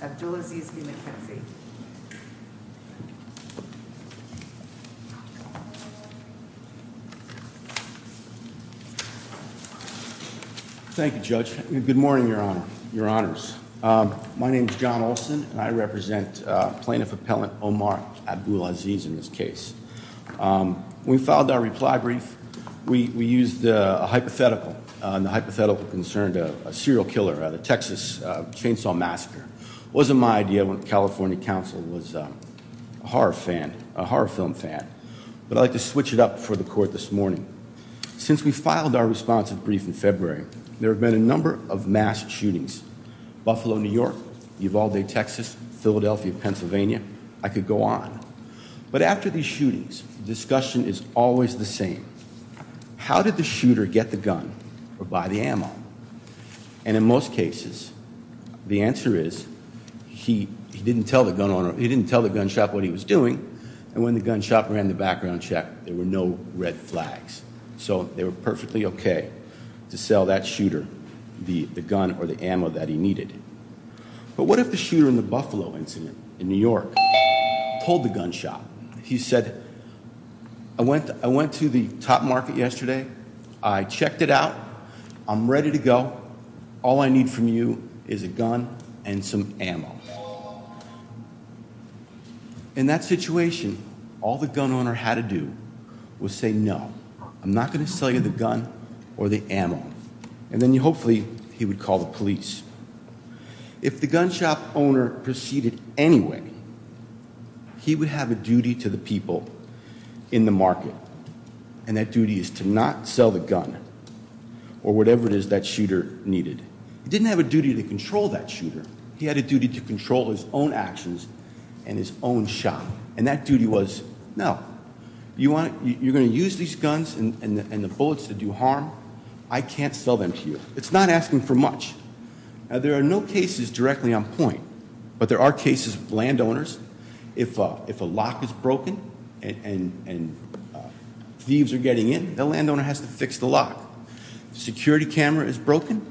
Abdulaziz v. McKinsey. Thank you, Judge. Good morning, Your Honor, Your Honors. My name is John Olson and I represent Plaintiff Appellant Omar Abdulaziz in this case. We filed our reply brief. We used a hypothetical and the hypothetical concerned a serial killer, the Texas Chainsaw Massacre. Wasn't my idea when California counsel was a horror fan, a horror film fan, but I'd like to switch it up for the court this morning. Since we filed our responsive brief in February, there have been a number of mass shootings. Buffalo, New York, Evalde, Texas, Philadelphia, Pennsylvania. I could go on. But after these shootings, the discussion is always the same. How did the shooter get the gun or buy the ammo? And in most cases, the answer is he didn't tell the gun owner, he didn't tell the gun shop what he was doing. And when the gun shop ran the background check, there were no red flags. So they were perfectly okay to sell that shooter the gun or the ammo that he needed. But what if the shooter in the Buffalo incident in New York told the gun shop, he said, I went to the top market yesterday. I checked it out. I'm ready to go. All I need from you is a gun and some ammo. In that situation, all the gun owner had to do was say, no, I'm not going to sell you the gun or the ammo. And then hopefully he would call the police. If the gun shop owner proceeded anyway, he would have a duty to the people in the market. And that duty is to not sell the gun or whatever it is that shooter needed. He didn't have a duty to control that shooter. He had a duty to control his own actions and his own shop. And that duty was, no, you're going to use these guns and the bullets to do harm. I can't sell them to you. It's not asking for much. There are no cases directly on point, but there are cases of landowners. If a lock is broken and thieves are getting in, the landowner has to fix the lock. Security camera is broken,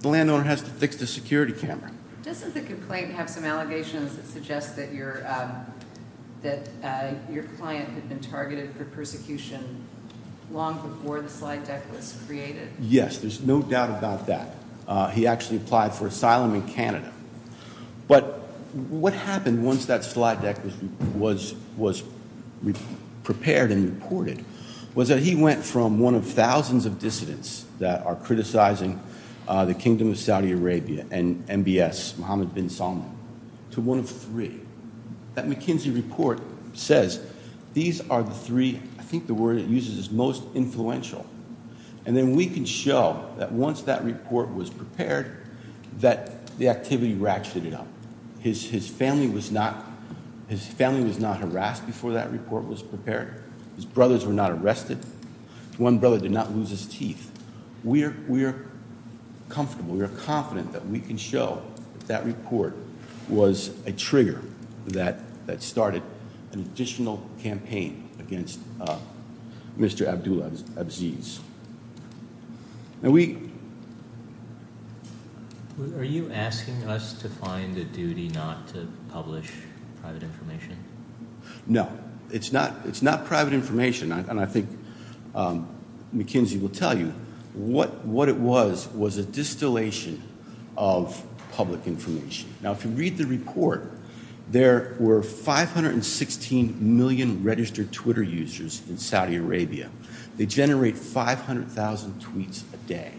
the landowner has to fix the security camera. Doesn't the complaint have some allegations that suggest that your client had been targeted for persecution long before the slide deck was created? Yes, there's no doubt about that. He actually applied for asylum in Canada. But what happened once that slide deck was prepared and reported was that he went from one of thousands of dissidents that are criticizing the Kingdom of Saudi Arabia and MBS, Mohammed bin Salman, to one of three. That McKinsey report says these are the three, I think the word it uses is most influential. And then we can show that once that report was prepared, that the activity ratcheted up. His family was not harassed before that report was prepared. His brothers were not arrested. One brother did not comfortable. We are confident that we can show that report was a trigger that started an additional campaign against Mr. Abdul Abziz. Are you asking us to find a duty not to publish private information? No, it's not private information. And I think McKinsey will tell you what it was, was a distillation of public information. Now, if you read the report, there were 516 million registered Twitter users in Saudi Arabia. They generate 500,000 tweets a day.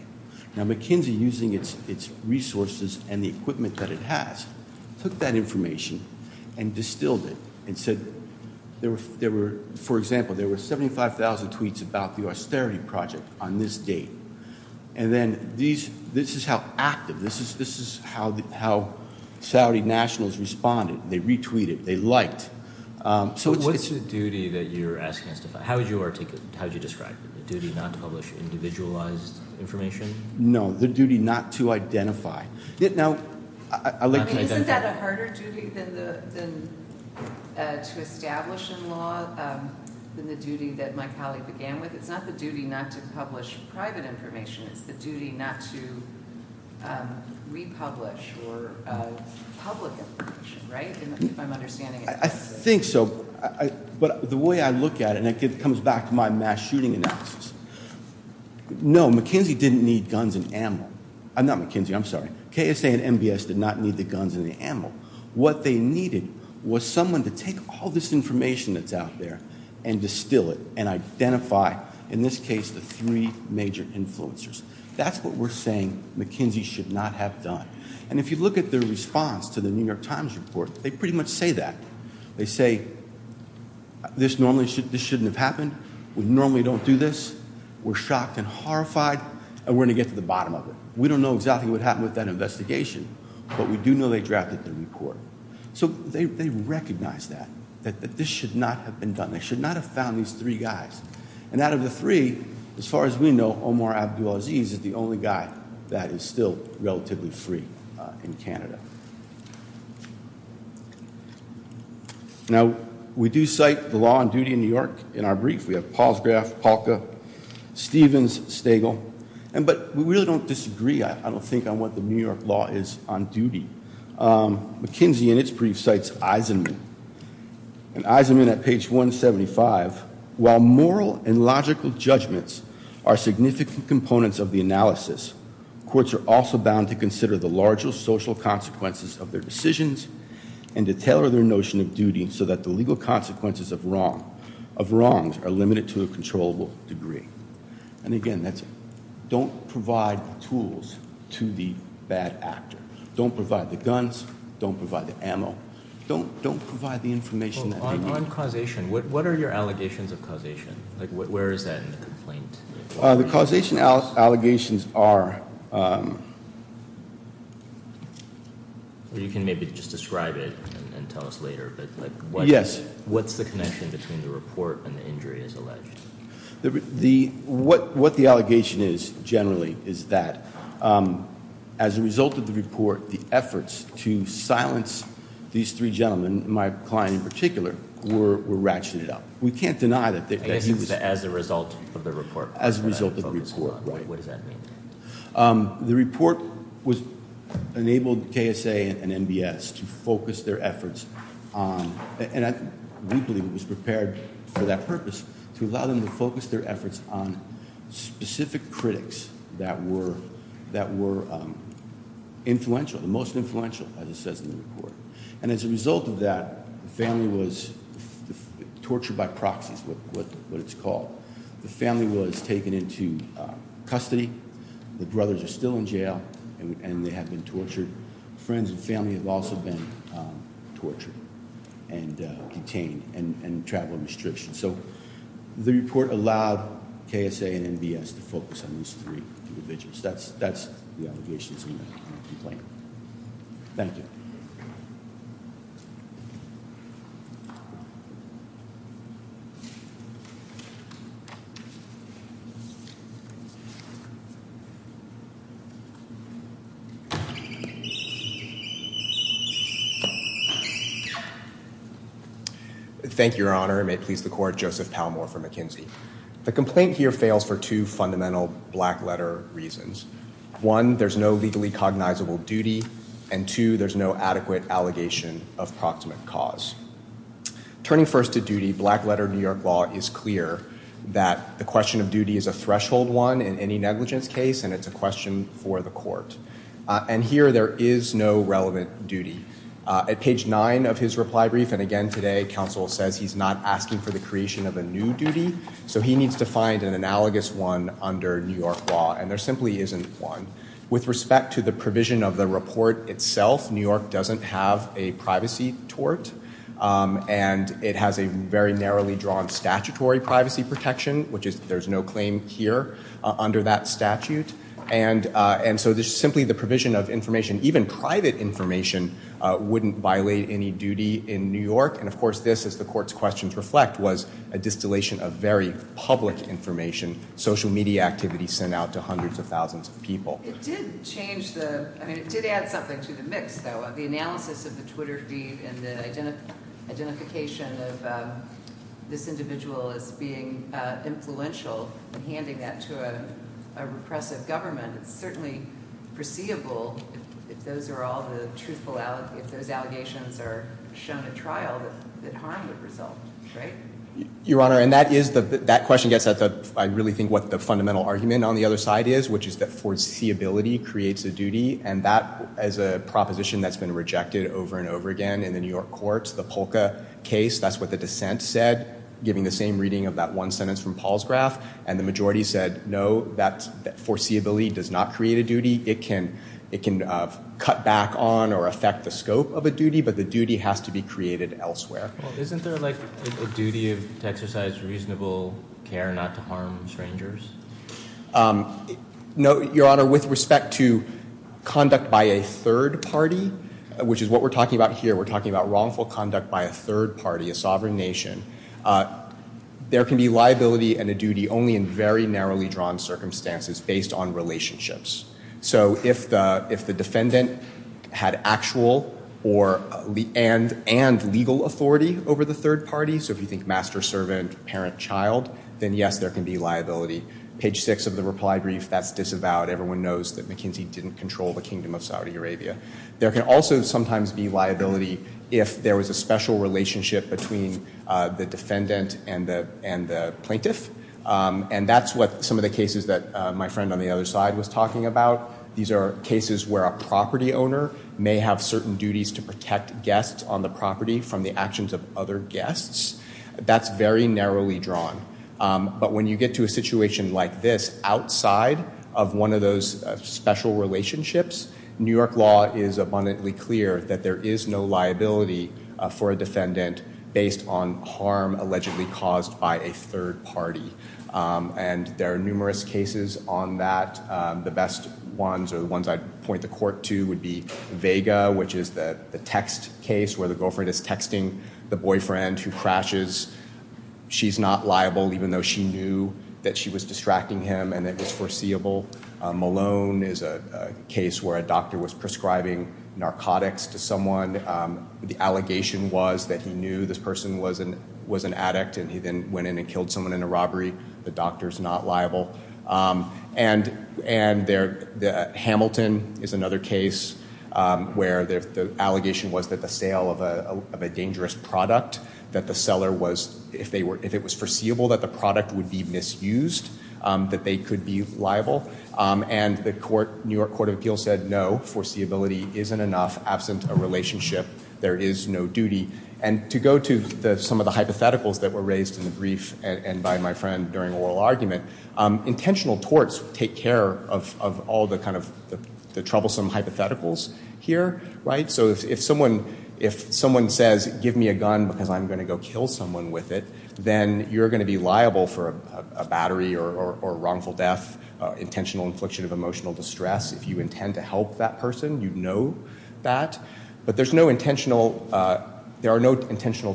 Now McKinsey, using its resources and the 75,000 tweets about the austerity project on this date. And then this is how active, this is how Saudi nationals responded. They retweeted, they liked. So what's the duty that you're asking us to find? How would you articulate, how would you describe the duty not to publish individualized information? No, the duty not to identify. Isn't that a harder duty to establish in law than the duty that my colleague began with? It's not the duty not to publish private information. It's the duty not to republish or public information, right? If I'm understanding it. I think so. But the way I look at it, and it comes back to my mass shooting analysis. No, McKinsey didn't need guns and ammo. Not McKinsey, I'm sorry. KSA and MBS did not need guns and the ammo. What they needed was someone to take all this information that's out there and distill it and identify, in this case, the three major influencers. That's what we're saying McKinsey should not have done. And if you look at the response to the New York Times report, they pretty much say that. They say, this normally shouldn't have happened. We normally don't do this. We're shocked and horrified. And we're going to get to the bottom of it. We don't know exactly what happened with that investigation, but we do know they drafted the report. So they recognize that, that this should not have been done. They should not have found these three guys. And out of the three, as far as we know, Omar Abdulaziz is the only guy that is still relatively free in Canada. Now, we do cite the law and duty in New York in our brief. We have Palsgraf, Palka, Stevens, Stagel. But we really don't disagree, I don't think, on what the New York law is on duty. McKinsey, in its brief, cites Eisenman. And Eisenman, at page 175, while moral and logical judgments are significant components of the analysis, courts are also bound to consider the larger social consequences of their decisions and to tailor their notion of duty so that the legal consequences of wrongs are limited to a controllable degree. And again, that's, don't provide the tools to the bad actor. Don't provide the guns. Don't provide the ammo. Don't, don't provide the information. On causation, what are your allegations of causation? Like, where is that in the complaint? The causation allegations are... You can maybe just describe it and tell us later, but like... Yes. What's the connection between the report and the injury as alleged? What the allegation is, generally, is that as a result of the report, the efforts to silence these three gentlemen, my client in particular, were ratcheted up. We can't deny that he was... As a result of the report. As a result of the report, right. What does that mean? The report was, enabled KSA and NBS to focus their efforts on, and we believe it was prepared for that purpose, to allow them to focus their efforts on specific critics that were, that were influential, the most influential, as it says in the report. And as a result of that, the family was tortured by proxies, what it's called. The family was taken into custody. The brothers are still in jail and they have been tortured. Friends and family have also been tortured and detained and travel restrictions. So the report allowed KSA and NBS to focus on these three individuals. That's the allegations in the complaint. Thank you. Thank you, Your Honor. It may please the court. Joseph Palmore for McKinsey. The complaint here fails for two fundamental black letter reasons. One, there's no legally cognizable duty. And two, there's no adequate allegation of proximate cause. Turning first to duty, black letter New York law is clear that the question of duty is a threshold one in any negligence case, and it's a question for the court. And here there is no relevant duty. At page nine of his reply brief, and again today, counsel says he's not asking for the creation of a new duty. So he needs to find an analogous one under New York law. And there simply isn't one. With respect to the provision of the report itself, New York doesn't have a privacy tort. And it has a very narrowly drawn statutory privacy protection, which is there's no claim here under that statute. And so there's simply the provision of information. Even private information wouldn't violate any duty in New York. And of course, this, as the court's questions reflect, was a distillation of very public information, social media activity sent out to hundreds of thousands of people. It did change the, I mean, it did add something to the mix, though. The analysis of the Twitter feed and the identification of this individual as being influential and handing that to a repressive government, it's certainly perceivable if those are all the truthful, if those allegations are shown at trial, that harm would result, right? Your Honor, and that is the, that question gets at the, I really think what the fundamental argument on the other side is, which is that foreseeability creates a duty. And that, as a proposition that's been rejected over and over again in the New York courts, the Polka case, that's what the dissent said, giving the same reading of that one sentence from Paul's graph. And the majority said, no, that foreseeability does not create a duty. It can cut back on or affect the scope of a duty, but the duty has to be created elsewhere. Well, isn't there like a duty to exercise reasonable care not to harm strangers? No, Your Honor, with respect to conduct by a third party, which is what we're talking about here, we're talking about wrongful conduct by a third party, a sovereign nation, there can be liability and a duty only in very narrowly drawn circumstances based on relationships. So if the defendant had actual or, and legal authority over the third party, so if you think master, servant, parent, child, then yes, there can be liability. Page six of the reply brief, that's disavowed. Everyone knows that McKinsey didn't control the Kingdom of Saudi Arabia. There can also sometimes be liability if there was a special relationship between the defendant and the plaintiff. And that's what some of the cases that my friend on the other side was talking about. These are cases where a property owner may have certain duties to protect guests on the property from the actions of other guests. That's very narrowly drawn. But when you get to a situation like this, outside of one of those special relationships, New York law is abundantly clear that there is no liability for a defendant based on harm allegedly caused by a third party. And there are numerous cases on that. The best ones are the ones I'd point the court to would be Vega, which is the text case where the girlfriend is texting the boyfriend who crashes. She's not liable even though she knew that she was distracting him and it was foreseeable. Malone is a case where a doctor was prescribing narcotics to someone. The allegation was that he knew this person was an addict and he then went in and killed someone in a robbery. The doctor's not liable. And Hamilton is another case where the allegation was that the sale of a dangerous product that the seller was, if it was foreseeable that the product would be misused, that they could be liable. And the New York Court of Appeals said, no, foreseeability isn't enough absent a relationship. There is no duty. And to go to some of the hypotheticals that were raised in the brief and by my friend during oral argument, intentional torts take care of all the kind of the troublesome hypotheticals here, right? If someone says, give me a gun because I'm going to go kill someone with it, then you're going to be liable for a battery or wrongful death, intentional infliction of emotional distress. If you intend to help that person, you know that. But there are no intentional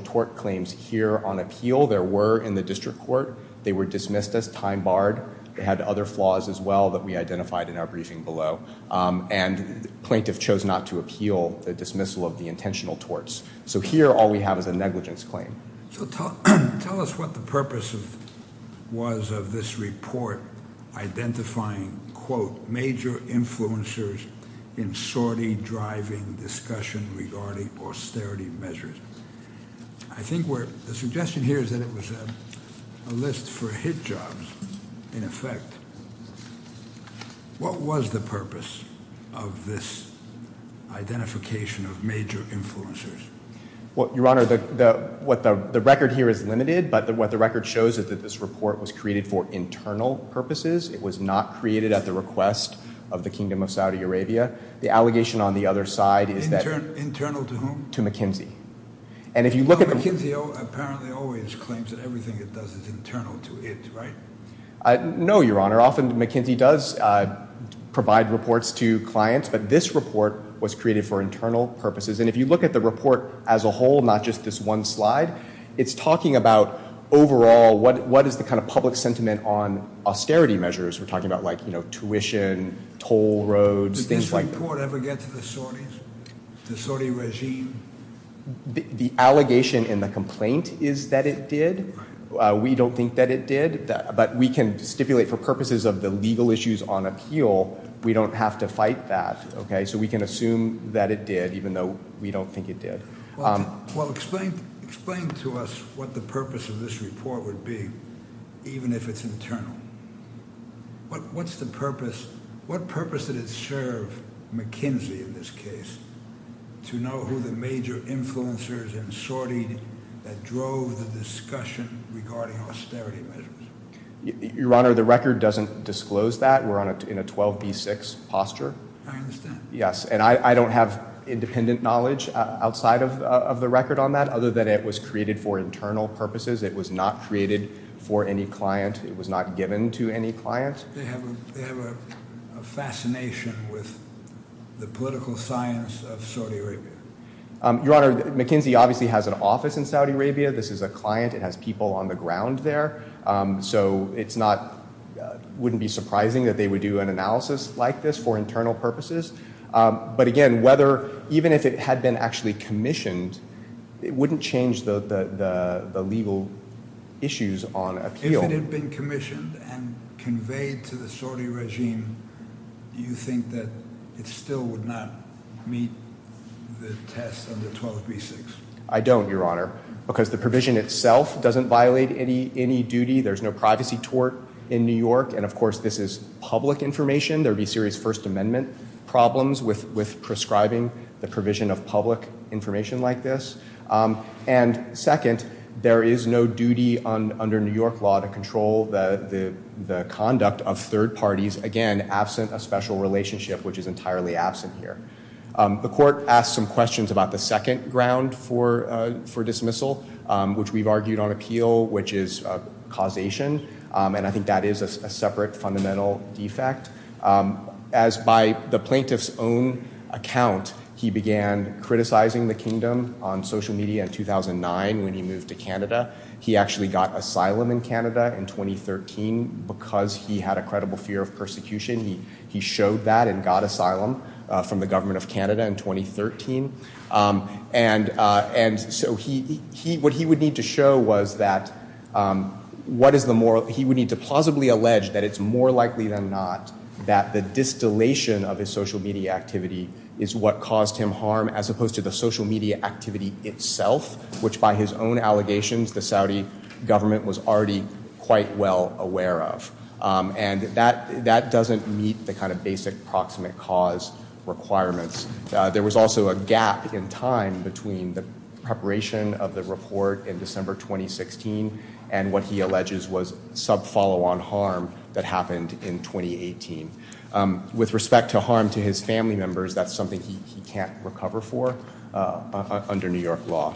tort claims here on appeal. There were in the district court. They were dismissed as time barred. They had other flaws as well that we identified in our briefing below. And plaintiff chose not to appeal the dismissal of the intentional torts. So here, all we have is a negligence claim. So tell us what the purpose of was of this report identifying, quote, major influencers in sortie driving discussion regarding austerity measures. I think where the suggestion here is that it was a list for hit jobs in effect. What was the purpose of this identification of major influencers? Well, your honor, the record here is limited, but what the record shows is that this report was created for internal purposes. It was not created at the request of the Kingdom of Saudi Arabia. The allegation on the other side is that- Internal to whom? To McKinsey. And if you look at the- McKinsey apparently always claims that everything it does is internal to it, right? No, your honor. Often McKinsey does provide reports to clients, but this report was created for internal purposes. And if you look at the report as a whole, not just this one slide, it's talking about overall what is the kind of public sentiment on austerity measures. We're talking about like, you know, tuition, toll roads, things like- Did this report ever get to the Saudis, the Saudi regime? The allegation in the complaint is that it did. We don't think that it did. But we can stipulate for purposes of the legal issues on appeal. We don't have to fight that, okay? So we can assume that it did, even though we don't think it did. Well, explain to us what the purpose of this report would be, even if it's internal. What's the purpose? What purpose did it serve McKinsey in this case to know who the major influencers and Saudi that drove the discussion regarding austerity measures? Your Honor, the record doesn't disclose that. We're in a 12B6 posture. I understand. Yes, and I don't have independent knowledge outside of the record on that, other than it was created for internal purposes. It was not created for any client. It was not given to any client. They have a fascination with the political science of Saudi Arabia. Your Honor, McKinsey obviously has an office in Saudi Arabia. This is a client. It has people on the ground there. So it wouldn't be surprising that they would do an analysis like this for internal purposes. But again, even if it had been actually commissioned, it wouldn't change the legal issues on appeal. If it had been commissioned and conveyed to the Saudi regime, do you think that it still would not meet the test of the 12B6? I don't, Your Honor, because the provision itself doesn't violate any duty. There's no privacy tort in New York. And of course, this is public information. There would be serious First Amendment problems with prescribing the provision of public information like this. And second, there is no duty under New York law to control the conduct of third parties, again, absent a special relationship, which is entirely absent here. The court asked some questions about the second ground for dismissal, which we've argued on appeal, which is causation. And I think that is a separate fundamental defect. As by the plaintiff's own account, he began criticizing the kingdom on social media in 2009 when he moved to Canada. He actually got asylum in Canada in 2013 because he had a credible fear of persecution. He showed that and got asylum from the government of Canada in 2013. And so what he would need to show was that he would need to plausibly allege that it's more likely than not that the distillation of his social media activity is what caused him harm as opposed to the social media activity itself, which by his own allegations, the Saudi government was already quite well aware of. And that doesn't meet the kind of basic proximate cause requirements. There was also a gap in time between the preparation of the report in December 2016 and what he alleges was sub-follow-on harm that happened in 2018. With respect to harm to his family members, that's something he can't recover for under New York law.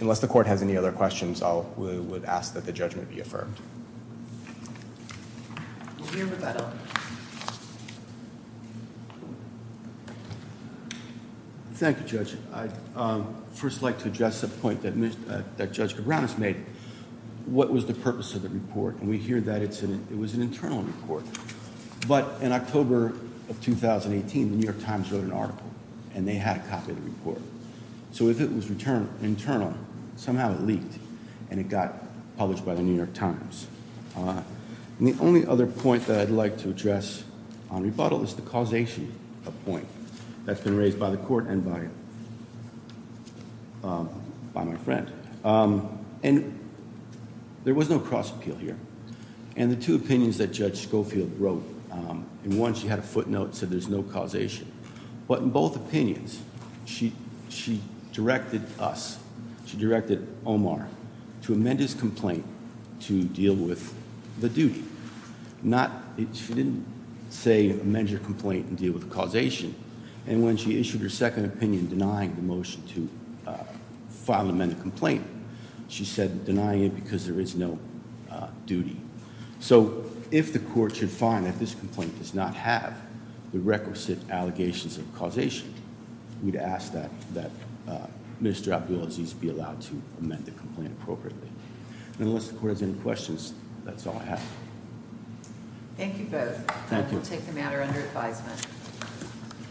Unless the court has any other questions, I would ask that the judgment be affirmed. Thank you, Judge. I'd first like to address a point that Judge Cabranes made. What was the purpose of the report? And we hear that it was an internal report. But in October of 2018, the New York Times wrote an article and they had a copy of the report. So if it was internal, somehow it leaked and it got published by the New York Times. And the only other point that I'd like to address on rebuttal is the causation point that's been raised by the court and by my friend. And there was no cross-appeal here. And the two opinions that Judge Schofield wrote, in one she had a footnote that said there's no causation. But in both opinions, she directed us, she directed Omar to amend his complaint to deal with the duty. She didn't say amend your complaint and deal with the causation. And when she issued her second opinion denying the motion to file an amended complaint, she said denying it because there is no duty. So if the court should find that this complaint does not have the requisite allegations of causation, we'd ask that that Mr. Abdulaziz be allowed to amend the complaint appropriately. And unless the court has any questions, that's all I have. Thank you both. Thank you. We'll take the matter under advisement.